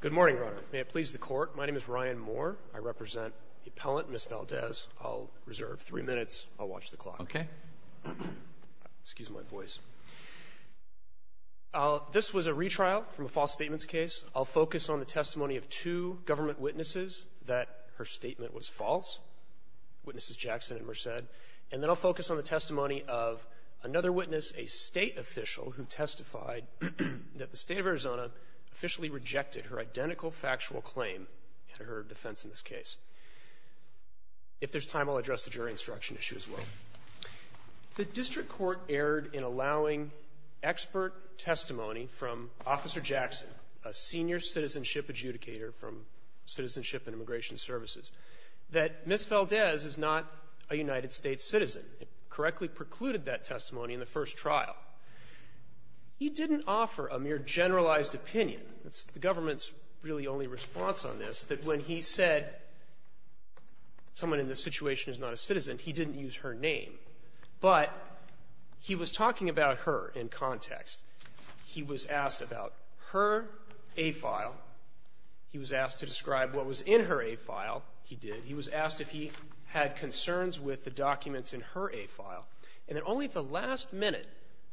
Good morning, Your Honor. May it please the Court, my name is Ryan Moore. I represent the appellant, Ms. Valdez. I'll reserve three minutes. I'll watch the clock. Okay. This was a retrial from a false statements case. I'll focus on the testimony of two government witnesses that her statement was false, Witnesses Jackson and Merced, and then I'll focus on the testimony of another witness, a State official, who testified that the State of Arizona officially rejected her identical factual claim in her defense in this case. If there's time, I'll address the jury instruction issue as well. The district court erred in allowing expert testimony from Officer Jackson, a senior citizenship adjudicator from Citizenship and Immigration Services, that Ms. Valdez is not a United States citizen, and he incorrectly precluded that testimony in the first trial. He didn't offer a mere generalized opinion. That's the government's really only response on this, that when he said someone in this situation is not a citizen, he didn't use her name. But he was talking about her in context. He was asked about her A file. He was asked to describe what was in her A file. He did. He was asked if he had concerns with the documents in her A file. And then only at the last minute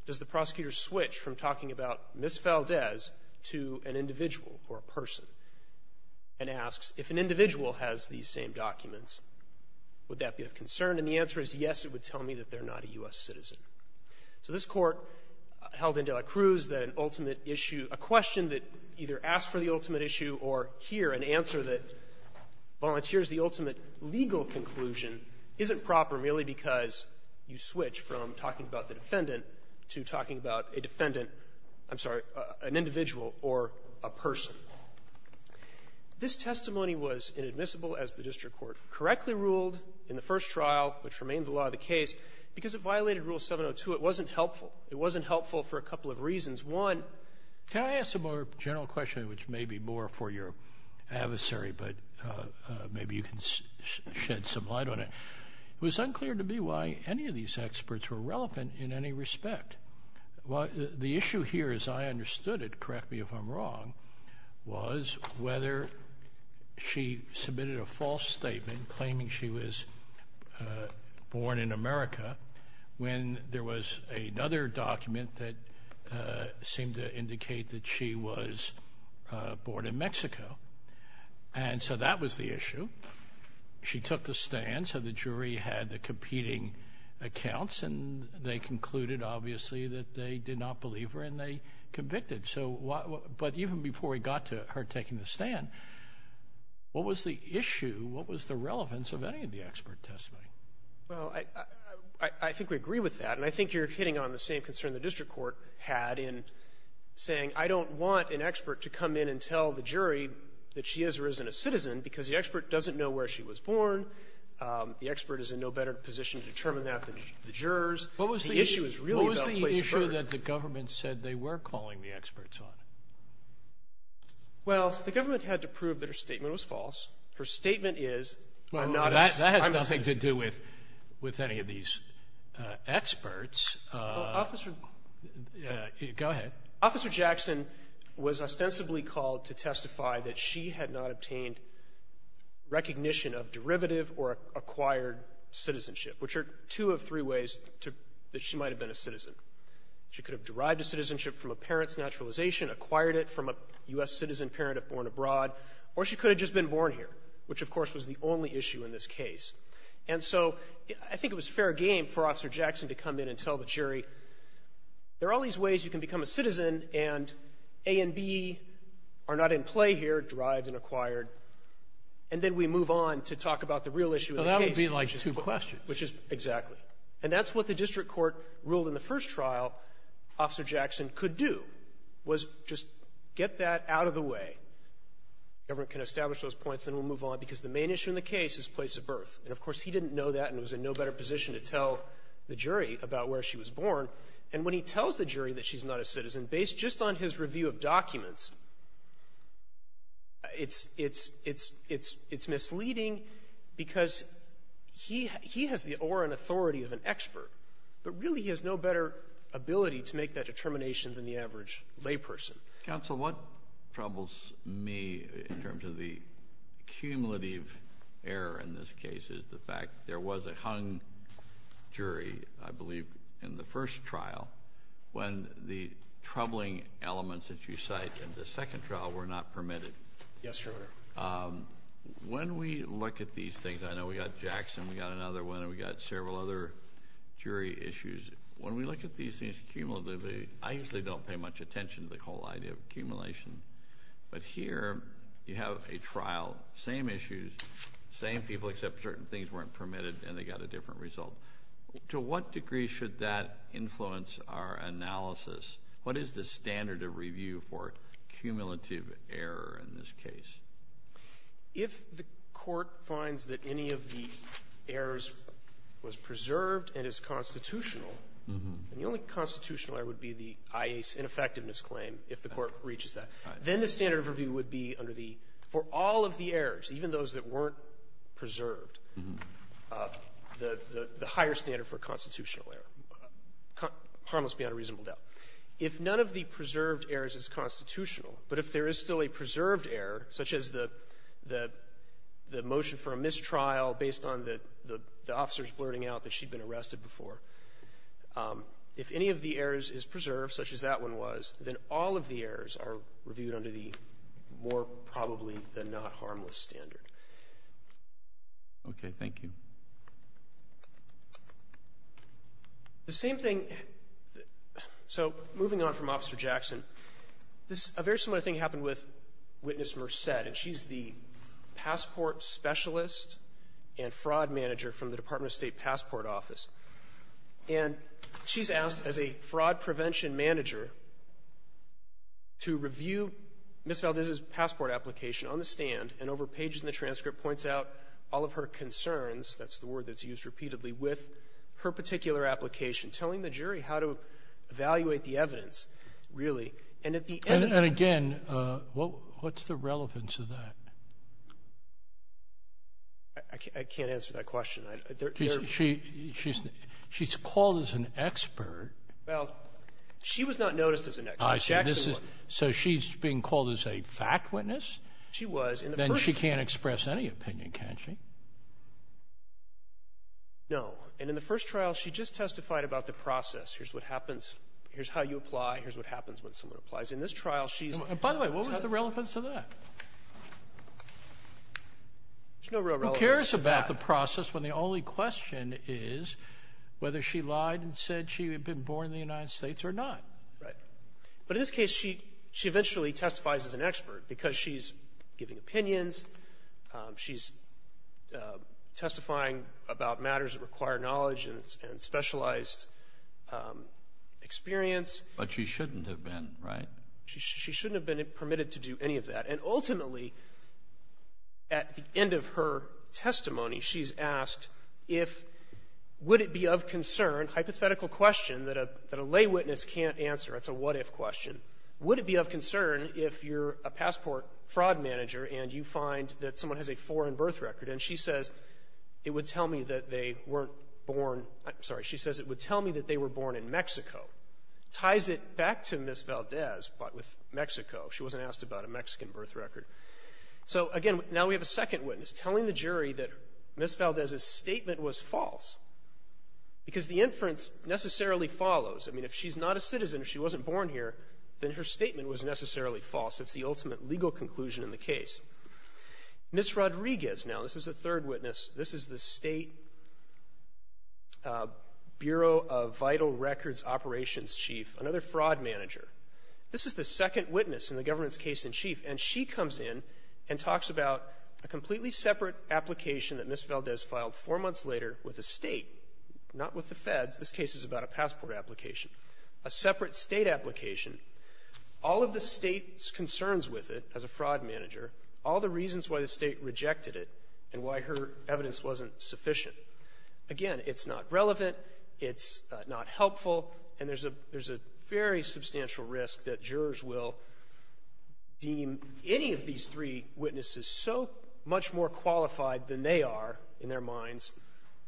does the prosecutor switch from talking about Ms. Valdez to an individual or a person, and asks if an individual has these same documents, would that be of concern? And the answer is, yes, it would tell me that they're not a U.S. citizen. So this Court held in de la Cruz that an ultimate issue, a question that either asks for the ultimate issue or here, an answer that volunteers the ultimate legal conclusion, isn't proper merely because you switch from talking about the defendant to talking about a defendant, I'm sorry, an individual or a person. This testimony was inadmissible as the district court correctly ruled in the first trial, which remained the law of the case, because it violated rule 702. It wasn't helpful. It wasn't helpful for a couple of reasons. One, can I ask a more general question, which may be more for your adversary, but maybe you can shed some light on it? It was unclear to me why any of these experts were relevant in any respect. The issue here, as I understood it, correct me if I'm wrong, was whether she submitted a false statement claiming she was born in America when there was another document that seemed to indicate that she was born in Mexico. And so that was the issue. She took the stand, so the jury had the competing accounts, and they concluded, obviously, that they did not believe her, and they convicted. But even before we got to her taking the stand, what was the issue, what was the relevance of any of the expert testimony? Well, I think we agree with that. And I think you're hitting on the same concern the district court had in saying, I don't want an expert to come in and tell the jury that she is or isn't a citizen, because the expert doesn't know where she was born. The expert is in no better position to determine that than the jurors. The issue is really about place of birth. But I'm not sure that the government said they were calling the experts on it. Well, the government had to prove that her statement was false. Her statement is, I'm not a citizen. Well, that has nothing to do with any of these experts. Well, Officer — Go ahead. Officer Jackson was ostensibly called to testify that she had not obtained recognition of derivative or acquired citizenship, which are two of three ways to — that she might have been a citizen. She could have derived a citizenship from a parent's naturalization, acquired it from a U.S. citizen parent if born abroad, or she could have just been born here, which, of course, was the only issue in this case. And so I think it was fair game for Officer Jackson to come in and tell the jury, there are all these ways you can become a citizen, and A and B are not in play here, derived and acquired, and then we move on to talk about the real issue of the case. And that would be like two questions. Which is exactly. And that's what the district court ruled in the first trial Officer Jackson could do, was just get that out of the way. Government can establish those points, and then we'll move on, because the main issue in the case is place of birth. And, of course, he didn't know that and was in no better position to tell the jury about where she was born. And when he tells the jury that she's not a citizen, based just on his review of documents, it's misleading because he has the aura and authority of an expert, but really he has no better ability to make that determination than the average layperson. Kennedy. Counsel, what troubles me in terms of the cumulative error in this case is the fact there was a hung jury, I believe, in the first trial, when the troubling elements that you cite in the second trial were not permitted. Yes, Your Honor. When we look at these things, I know we got Jackson, we got another one, and we got several other jury issues. When we look at these things, cumulatively, I usually don't pay much attention to the whole idea of accumulation. But here, you have a trial, same issues, same people, except certain things weren't permitted and they got a different result. To what degree should that influence our analysis? What is the standard of review for cumulative error in this case? If the Court finds that any of the errors was preserved and is constitutional and the only constitutional error would be the IA's ineffectiveness claim, if the Court reaches that, then the standard of review would be under the for all of the errors, even those that weren't preserved, the higher standard for constitutional error, harmless beyond a reasonable doubt. If none of the preserved errors is constitutional, but if there is still a preserved error, such as the motion for a mistrial based on the officer's blurting out that she'd been arrested before, if any of the errors is preserved, such as that one was, then all of the errors are reviewed under the more probably-than-not harmless standard. Okay. Thank you. The same thing, so, moving on from Officer Jackson, this, a very similar thing happened with Witness Merced, and she's the passport specialist and fraud manager from the Department of State Passport Office. And she's asked, as a fraud prevention manager, to review Ms. Valdez's passport application on the stand, and over pages in the transcript, points out all of her concerns, that's the word that's used repeatedly, with her particular application, telling the jury how to evaluate the evidence, really. And at the end of the day And again, what's the relevance of that? I can't answer that question. She's called as an expert. Well, she was not noticed as an expert. So she's being called as a fact witness? She was. Then she can't express any opinion, can she? No. And in the first trial, she just testified about the process. Here's what happens. Here's how you apply. Here's what happens when someone applies. In this trial, she's By the way, what was the relevance of that? There's no real relevance. Who cares about the process when the only question is whether she lied and said she had been born in the United States or not? Right. But in this case, she eventually testifies as an expert because she's giving opinions, she's testifying about matters that require knowledge and specialized experience. But she shouldn't have been, right? She shouldn't have been permitted to do any of that. And ultimately, at the end of her testimony, she's asked if, would it be of concern, hypothetical question, that a lay witness can't answer. That's a what-if question. Would it be of concern if you're a passport fraud manager and you find that someone has a foreign birth record, and she says, it would tell me that they weren't born, I'm sorry, she says it would tell me that they were born in Mexico. Ties it back to Ms. Valdez, but with Mexico. She wasn't asked about a Mexican birth record. So again, now we have a second witness telling the jury that Ms. Valdez's testimony follows. I mean, if she's not a citizen, if she wasn't born here, then her statement was necessarily false. It's the ultimate legal conclusion in the case. Ms. Rodriguez, now, this is the third witness. This is the State Bureau of Vital Records Operations Chief, another fraud manager. This is the second witness in the government's case-in-chief, and she comes in and talks about a completely separate application that Ms. Valdez filed four months later with the State, not with the Feds. This case is about a passport application, a separate State application, all of the State's concerns with it as a fraud manager, all the reasons why the State rejected it, and why her evidence wasn't sufficient. Again, it's not relevant, it's not helpful, and there's a very substantial risk that jurors will deem any of these three witnesses so much more qualified than they are in their minds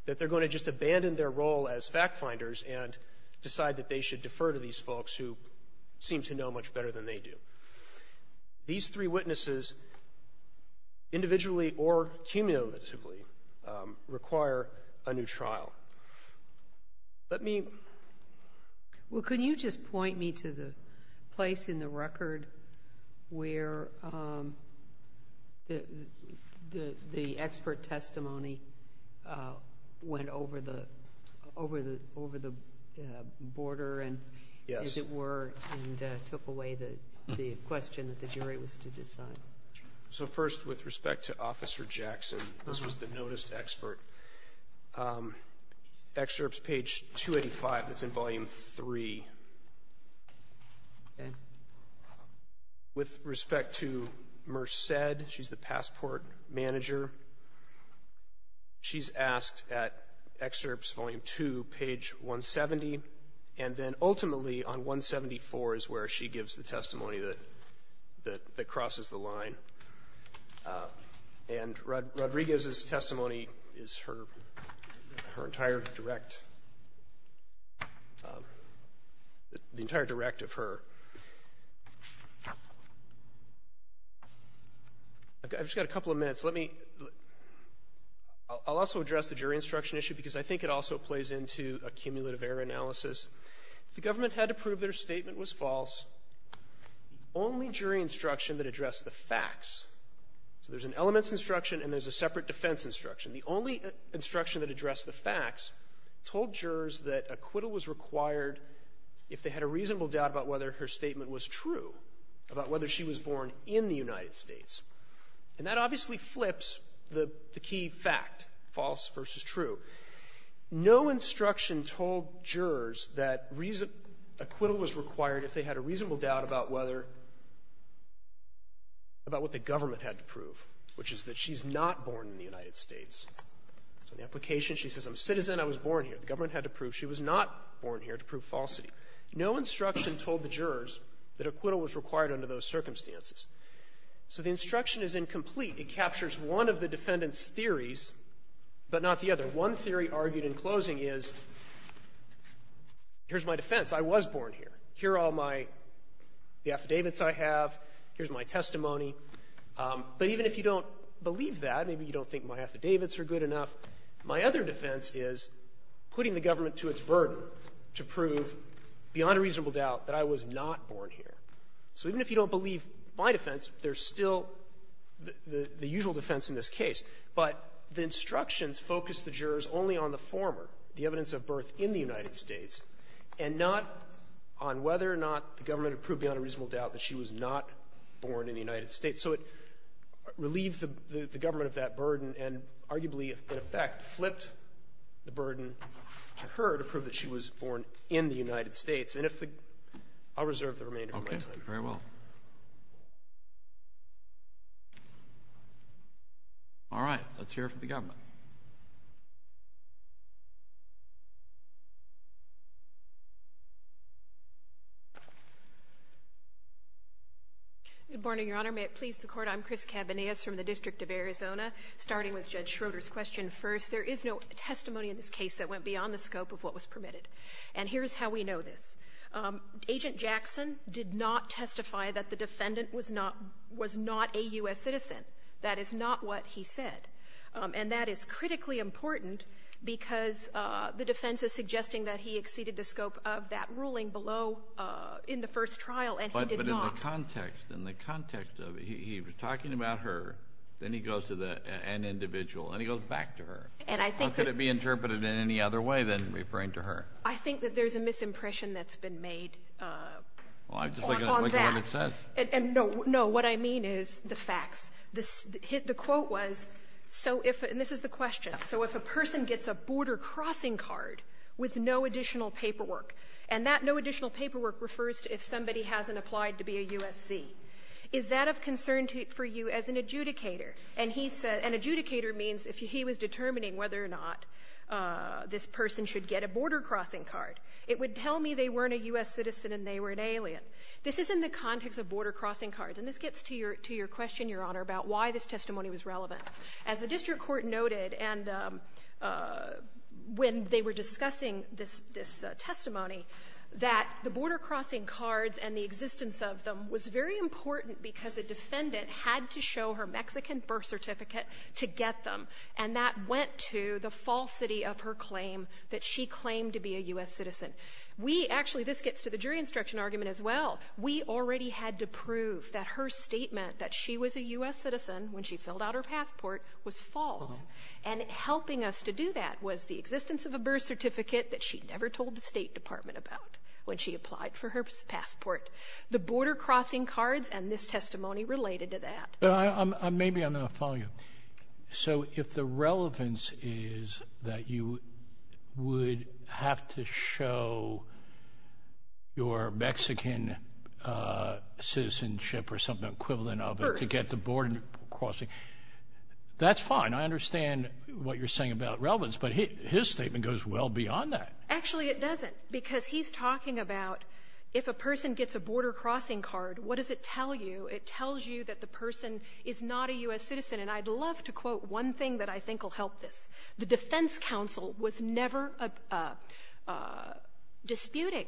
that they're going to just abandon their role as fact-finders and decide that they should defer to these folks who seem to know much better than they do. These three witnesses, individually or cumulatively, require a new trial. Let me ---- Sotomayor, well, could you just point me to the place in the record where the expert testimony went over the border and, as it were, and took away the question that the jury was to decide? So first, with respect to Officer Jackson, this was the noticed expert. Excerpts, page 285, that's in Volume III. Okay. With respect to Merced, she's the passport manager. She's asked at Excerpts, Volume II, page 170, and then ultimately on 174 is where she gives the testimony that crosses the line. And Rodriguez's testimony is her entire direct ---- the entire direct of her. I've just got a couple of minutes. Let me ---- I'll also address the jury instruction issue because I think it also plays into a cumulative error analysis. The government had to prove their statement was false. The only jury instruction that addressed the facts ---- so there's an elements instruction and there's a separate defense instruction. The only instruction that addressed the facts told jurors that acquittal was required if they had a reasonable doubt about whether her statement was true, about whether she was born in the United States. And that obviously flips the key fact, false versus true. No instruction told jurors that reason ---- acquittal was required if they had a reasonable doubt about whether ---- about what the government had to prove, which is that she's not born in the United States. So the application ---- she says, I'm a citizen, I was born here. The government had to prove she was not born here to prove falsity. No instruction told the jurors that acquittal was required under those circumstances. So the instruction is incomplete. It captures one of the defendant's theories, but not the other. One theory argued in closing is, here's my defense. I was born here. Here are all my ---- the affidavits I have. Here's my testimony. But even if you don't believe that, maybe you don't think my affidavits are good enough, my other defense is putting the government to its burden to prove beyond a reasonable doubt that I was not born here. So even if you don't believe my defense, there's still the usual defense in this case. But the instructions focus the jurors only on the former, the evidence of birth in the United States, and not on whether or not the government had proved beyond a reasonable doubt that she was not born in the United States. So it relieves the government of that burden and arguably, in effect, flipped the burden to her to prove that she was born in the United States. And if the ---- I'll reserve the remainder of my time. Okay. Very well. All right. Let's hear from the government. Good morning, Your Honor. May it please the Court. I'm Chris Cabanillas from the District of Arizona. Starting with Judge Schroeder's question first, there is no testimony in this case that went beyond the scope of what was permitted. And here's how we know this. Agent Jackson did not testify that the defendant was not a U.S. citizen. That is not what he said. And that is critically important because the defense is suggesting that he exceeded the scope of that ruling below in the first trial, and he did not. But in the context, in the context of it, he was talking about her, then he goes to the end individual, and he goes back to her. And I think that ---- How could it be interpreted in any other way than referring to her? I think that there's a misimpression that's been made on that. Well, I'm just looking at what it says. And no, no. What I mean is the facts. The quote was, so if ---- and this is the question. So if a person gets a border-crossing card with no additional paperwork, and that no additional paperwork refers to if somebody hasn't applied to be a U.S.C., is that of concern for you as an adjudicator? And he said an adjudicator means if he was determining whether or not this person should get a border-crossing card. It would tell me they weren't a U.S. citizen and they were an alien. This is in the context of border-crossing cards. And this gets to your question, Your Honor, about why this testimony was relevant. As the district court noted, and when they were discussing this testimony, that the border-crossing cards and the existence of them was very important because a defendant had to show her Mexican birth certificate to get them, and that went to the falsity of her claim that she claimed to be a U.S. citizen. We actually ---- this gets to the jury instruction argument as well. We already had to prove that her statement that she was a U.S. citizen when she filled out her passport was false. And helping us to do that was the existence of a birth certificate that she never told the State Department about when she applied for her passport. The border-crossing cards and this testimony related to that. But I'm ---- maybe I'm going to follow you. So if the relevance is that you would have to show your Mexican citizenship or something equivalent of it to get the border crossing, that's fine. I understand what you're saying about relevance. But his statement goes well beyond that. Actually, it doesn't, because he's talking about if a person gets a border-crossing card, what does it tell you? It tells you that the person is not a U.S. citizen. And I'd love to quote one thing that I think will help this. The Defense Council was never disputing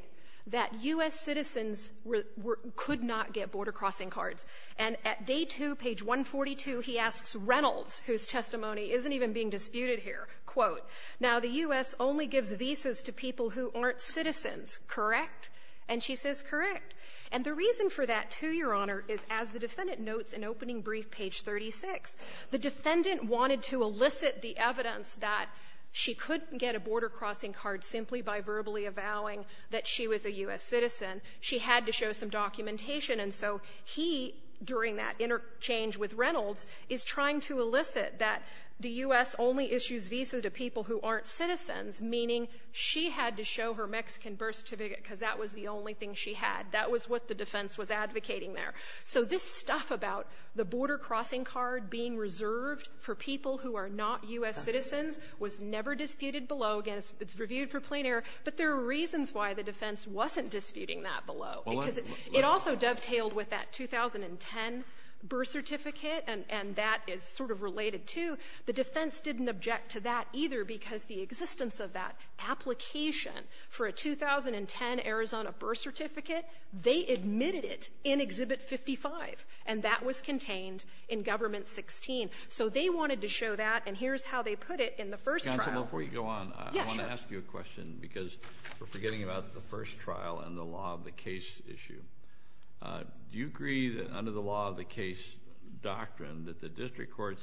that U.S. citizens were ---- could not get border-crossing cards. And at day two, page 142, he asks Reynolds, whose testimony isn't even being disputed here, quote, now, the U.S. only gives visas to people who aren't citizens, correct? And she says, correct. And the reason for that, too, Your Honor, is as the defendant notes in opening brief, page 36, the defendant wanted to elicit the evidence that she couldn't get a border-crossing card simply by verbally avowing that she was a U.S. citizen. She had to show some documentation. And so he, during that interchange with Reynolds, is trying to elicit that the U.S. only issues visas to people who aren't citizens, meaning she had to show her Mexican birth certificate because that was the only thing she had. That was what the defense was advocating there. So this stuff about the border-crossing card being reserved for people who are not U.S. citizens was never disputed below. Again, it's reviewed for plain error. But there are reasons why the defense wasn't disputing that below. Because it also dovetailed with that 2010 birth certificate, and that is sort of related to. The defense didn't object to that either because the existence of that application for a 2010 Arizona birth certificate, they admitted it in Exhibit 55, and that was contained in Government 16. So they wanted to show that, and here's how they put it in the first trial. Kennedy. Counsel, before you go on, I want to ask you a question because we're forgetting about the first trial and the law of the case issue. Do you agree that under the law of the case doctrine that the district courts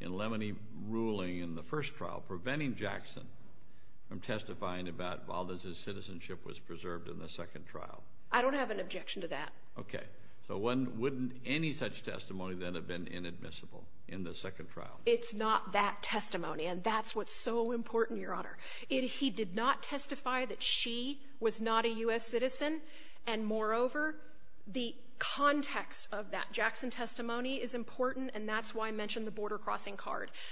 in Lemony ruling in the first trial preventing Jackson from testifying about Valdez's citizenship was preserved in the second trial? I don't have an objection to that. Okay. So wouldn't any such testimony then have been inadmissible in the second trial? It's not that testimony, and that's what's so important, Your Honor. He did not testify that she was not a U.S. citizen, and moreover, the context of that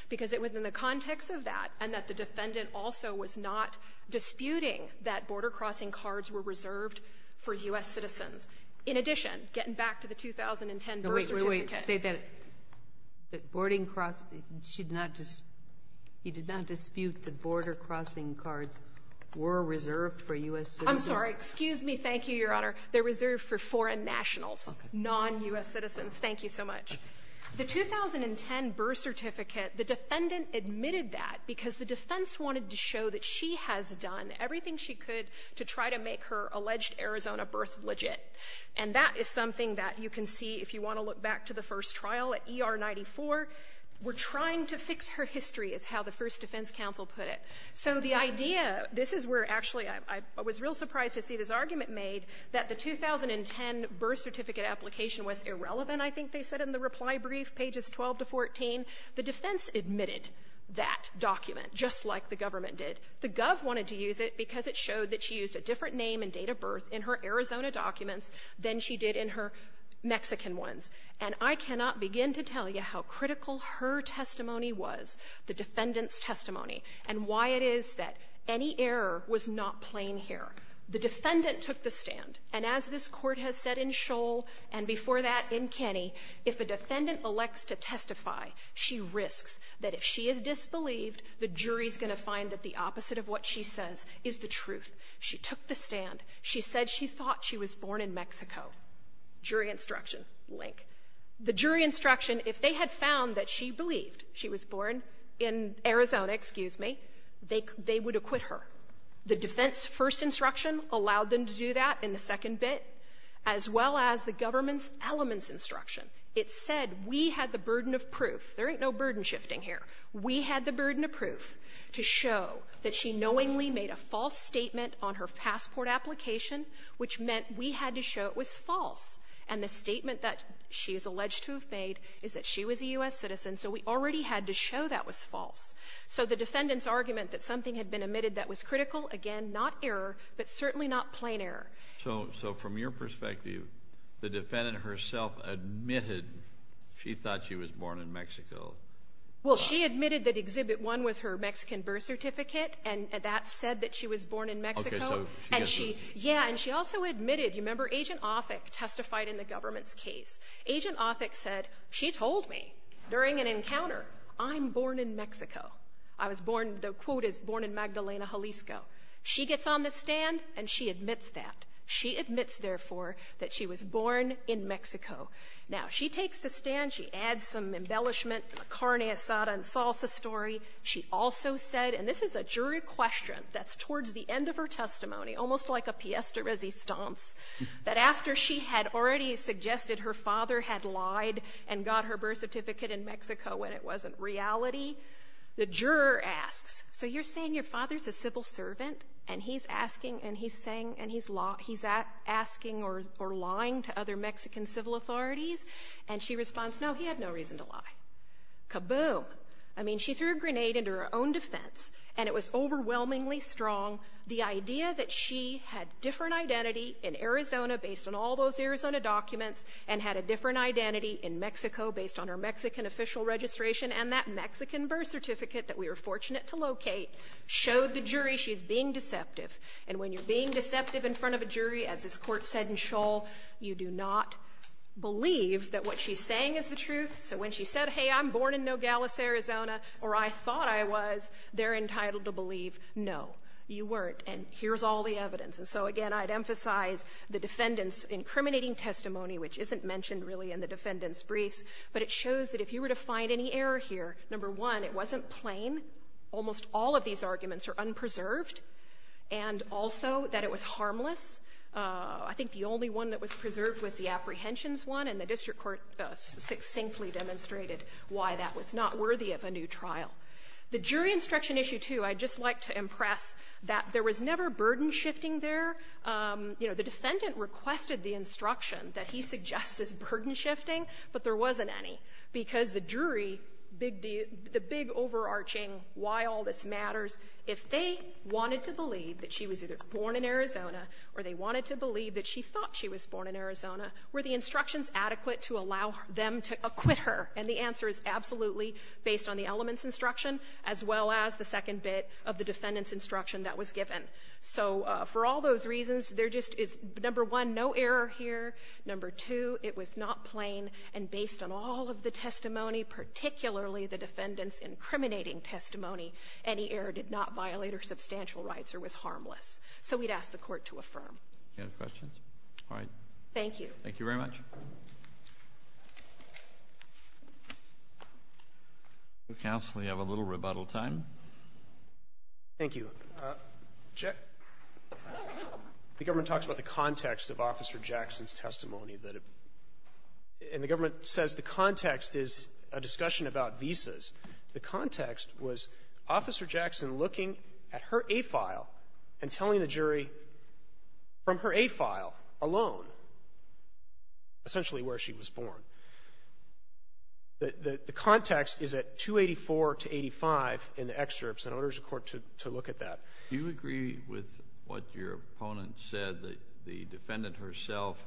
because it was in the context of that and that the defendant also was not disputing that border-crossing cards were reserved for U.S. citizens. In addition, getting back to the 2010 birth certificate — Wait, wait, wait. Say that — that boarding cross — she did not — he did not dispute that border-crossing cards were reserved for U.S. citizens. I'm sorry. Excuse me. Thank you, Your Honor. They're reserved for foreign nationals, non-U.S. citizens. Thank you so much. The 2010 birth certificate, the defendant admitted that because the defense wanted to show that she has done everything she could to try to make her alleged Arizona birth legit. And that is something that you can see if you want to look back to the first trial at ER 94. We're trying to fix her history, is how the first defense counsel put it. So the idea — this is where, actually, I was real surprised to see this argument made that the 2010 birth certificate application was irrelevant, I think they said in the reply brief, pages 12 to 14. The defense admitted that document, just like the government did. The gov wanted to use it because it showed that she used a different name and date of birth in her Arizona documents than she did in her Mexican ones. And I cannot begin to tell you how critical her testimony was, the defendant's testimony, and why it is that any error was not plain here. The defendant took the stand. And as this Court has said in Scholl, and before that in Kenney, if a defendant elects to testify, she risks that if she is disbelieved, the jury's going to find that the opposite of what she says is the truth. She took the stand. She said she thought she was born in Mexico. Jury instruction, link. The jury instruction, if they had found that she believed she was born in Arizona, excuse me, they would acquit her. The defense's first instruction allowed them to do that in the second bit, as well as the government's elements instruction. It said we had the burden of proof. There ain't no burden shifting here. We had the burden of proof to show that she knowingly made a false statement on her passport application, which meant we had to show it was false. And the statement that she is alleged to have made is that she was a U.S. citizen, so we already had to show that was false. So the defendant's argument that something had been admitted that was critical, again, not error, but certainly not plain error. Kennedy. So from your perspective, the defendant herself admitted she thought she was born in Mexico. Well, she admitted that Exhibit 1 was her Mexican birth certificate, and that said that she was born in Mexico. Okay. So she gets the ---- Yeah. And she also admitted, you remember, Agent Offick testified in the government's case. Agent Offick said, she told me during an encounter, I'm born in Mexico. I was born ---- the quote is, born in Magdalena, Jalisco. She gets on the stand, and she admits that. She admits, therefore, that she was born in Mexico. Now, she takes the stand. She adds some embellishment, a carne asada and salsa story. She also said, and this is a jury question that's towards the end of her testimony, almost like a piece de resistance, that after she had already suggested her father had lied and got her birth certificate in Mexico when it wasn't reality, the juror asks, so you're saying your father's a civil servant, and he's asking, and he's saying, and he's asking or lying to other Mexican civil authorities? And she responds, no, he had no reason to lie. Kaboom. I mean, she threw a grenade into her own defense, and it was overwhelmingly strong, the idea that she had different identity in Arizona based on all those Arizona documents, and had a different identity in Mexico based on her Mexican official registration and that Mexican birth certificate that we were fortunate to locate, showed the jury she's being deceptive. And when you're being deceptive in front of a jury, as this Court said in Schull, you do not believe that what she's saying is the truth. So when she said, hey, I'm born in Nogales, Arizona, or I thought I was, they're all wrong, no, you weren't, and here's all the evidence. And so, again, I'd emphasize the defendant's incriminating testimony, which isn't mentioned really in the defendant's briefs, but it shows that if you were to find any error here, number one, it wasn't plain. Almost all of these arguments are unpreserved, and also that it was harmless. I think the only one that was preserved was the apprehensions one, and the district court succinctly demonstrated why that was not worthy of a new trial. The jury instruction issue, too, I'd just like to impress that there was never burden shifting there. You know, the defendant requested the instruction that he suggests is burden shifting, but there wasn't any, because the jury, the big overarching why all this matters, if they wanted to believe that she was either born in Arizona or they wanted to believe that she thought she was born in Arizona, were the instructions adequate to allow them to acquit her, and the answer is absolutely based on the elements instruction as well as the second bit of the defendant's instruction that was given. So for all those reasons, there just is, number one, no error here, number two, it was not plain, and based on all of the testimony, particularly the defendant's incriminating testimony, any error did not violate her substantial rights or was harmless. So we'd ask the Court to affirm. Roberts. Thank you very much. Counsel, you have a little rebuttal time. Thank you. The government talks about the context of Officer Jackson's testimony, and the government says the context is a discussion about visas. The context was Officer Jackson looking at her A file and telling the jury from her A essentially where she was born. The context is at 284 to 85 in the excerpts, and I order the Court to look at that. Do you agree with what your opponent said, that the defendant herself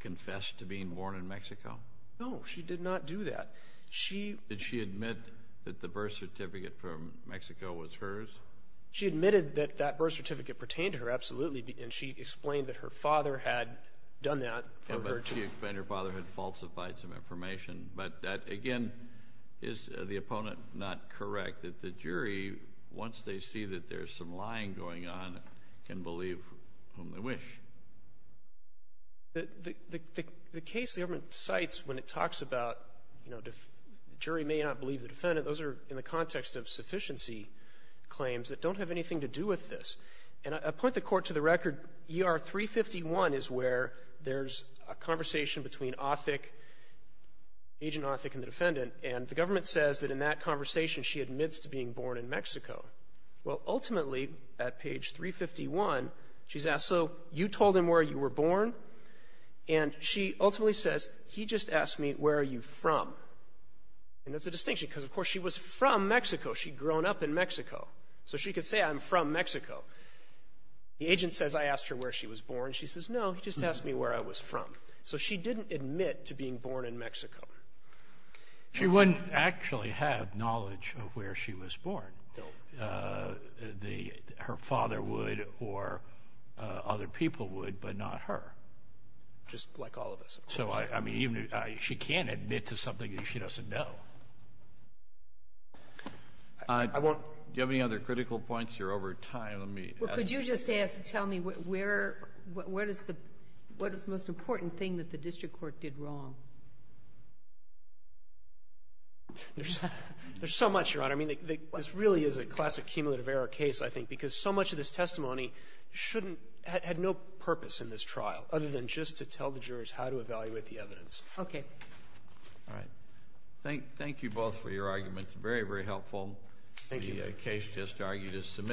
confessed to being born in Mexico? No. She did not do that. She — Did she admit that the birth certificate from Mexico was hers? She admitted that that birth certificate pertained to her, absolutely, and she explained that her father had done that for her, too. And her father had falsified some information. But again, is the opponent not correct, that the jury, once they see that there's some lying going on, can believe whom they wish? The case the government cites when it talks about, you know, the jury may not believe the defendant, those are in the context of sufficiency claims that don't have anything to do with this. And I point the Court to the record. ER 351 is where there's a conversation between Othick, Agent Othick and the defendant. And the government says that in that conversation, she admits to being born in Mexico. Well, ultimately, at page 351, she's asked, so you told him where you were born? And she ultimately says, he just asked me, where are you from? And that's a distinction, because, of course, she was from Mexico. She'd grown up in Mexico. So she could say, I'm from Mexico. The agent says, I asked her where she was born. She says, no, he just asked me where I was from. So she didn't admit to being born in Mexico. She wouldn't actually have knowledge of where she was born. Her father would, or other people would, but not her. Just like all of us, of course. So, I mean, even if she can't admit to something that she doesn't know. I won't do any other critical points. You're over time. Let me ask you something. Well, could you just ask, tell me where, where does the, what is the most important thing that the district court did wrong? There's so much, Your Honor. I mean, this really is a classic cumulative error case, I think, because so much of this testimony shouldn't, had no purpose in this trial, other than just to tell the jurors how to evaluate the evidence. Okay. All right. Thank, thank you both for your arguments. Very, very helpful. Thank you. The case just argued as submitted.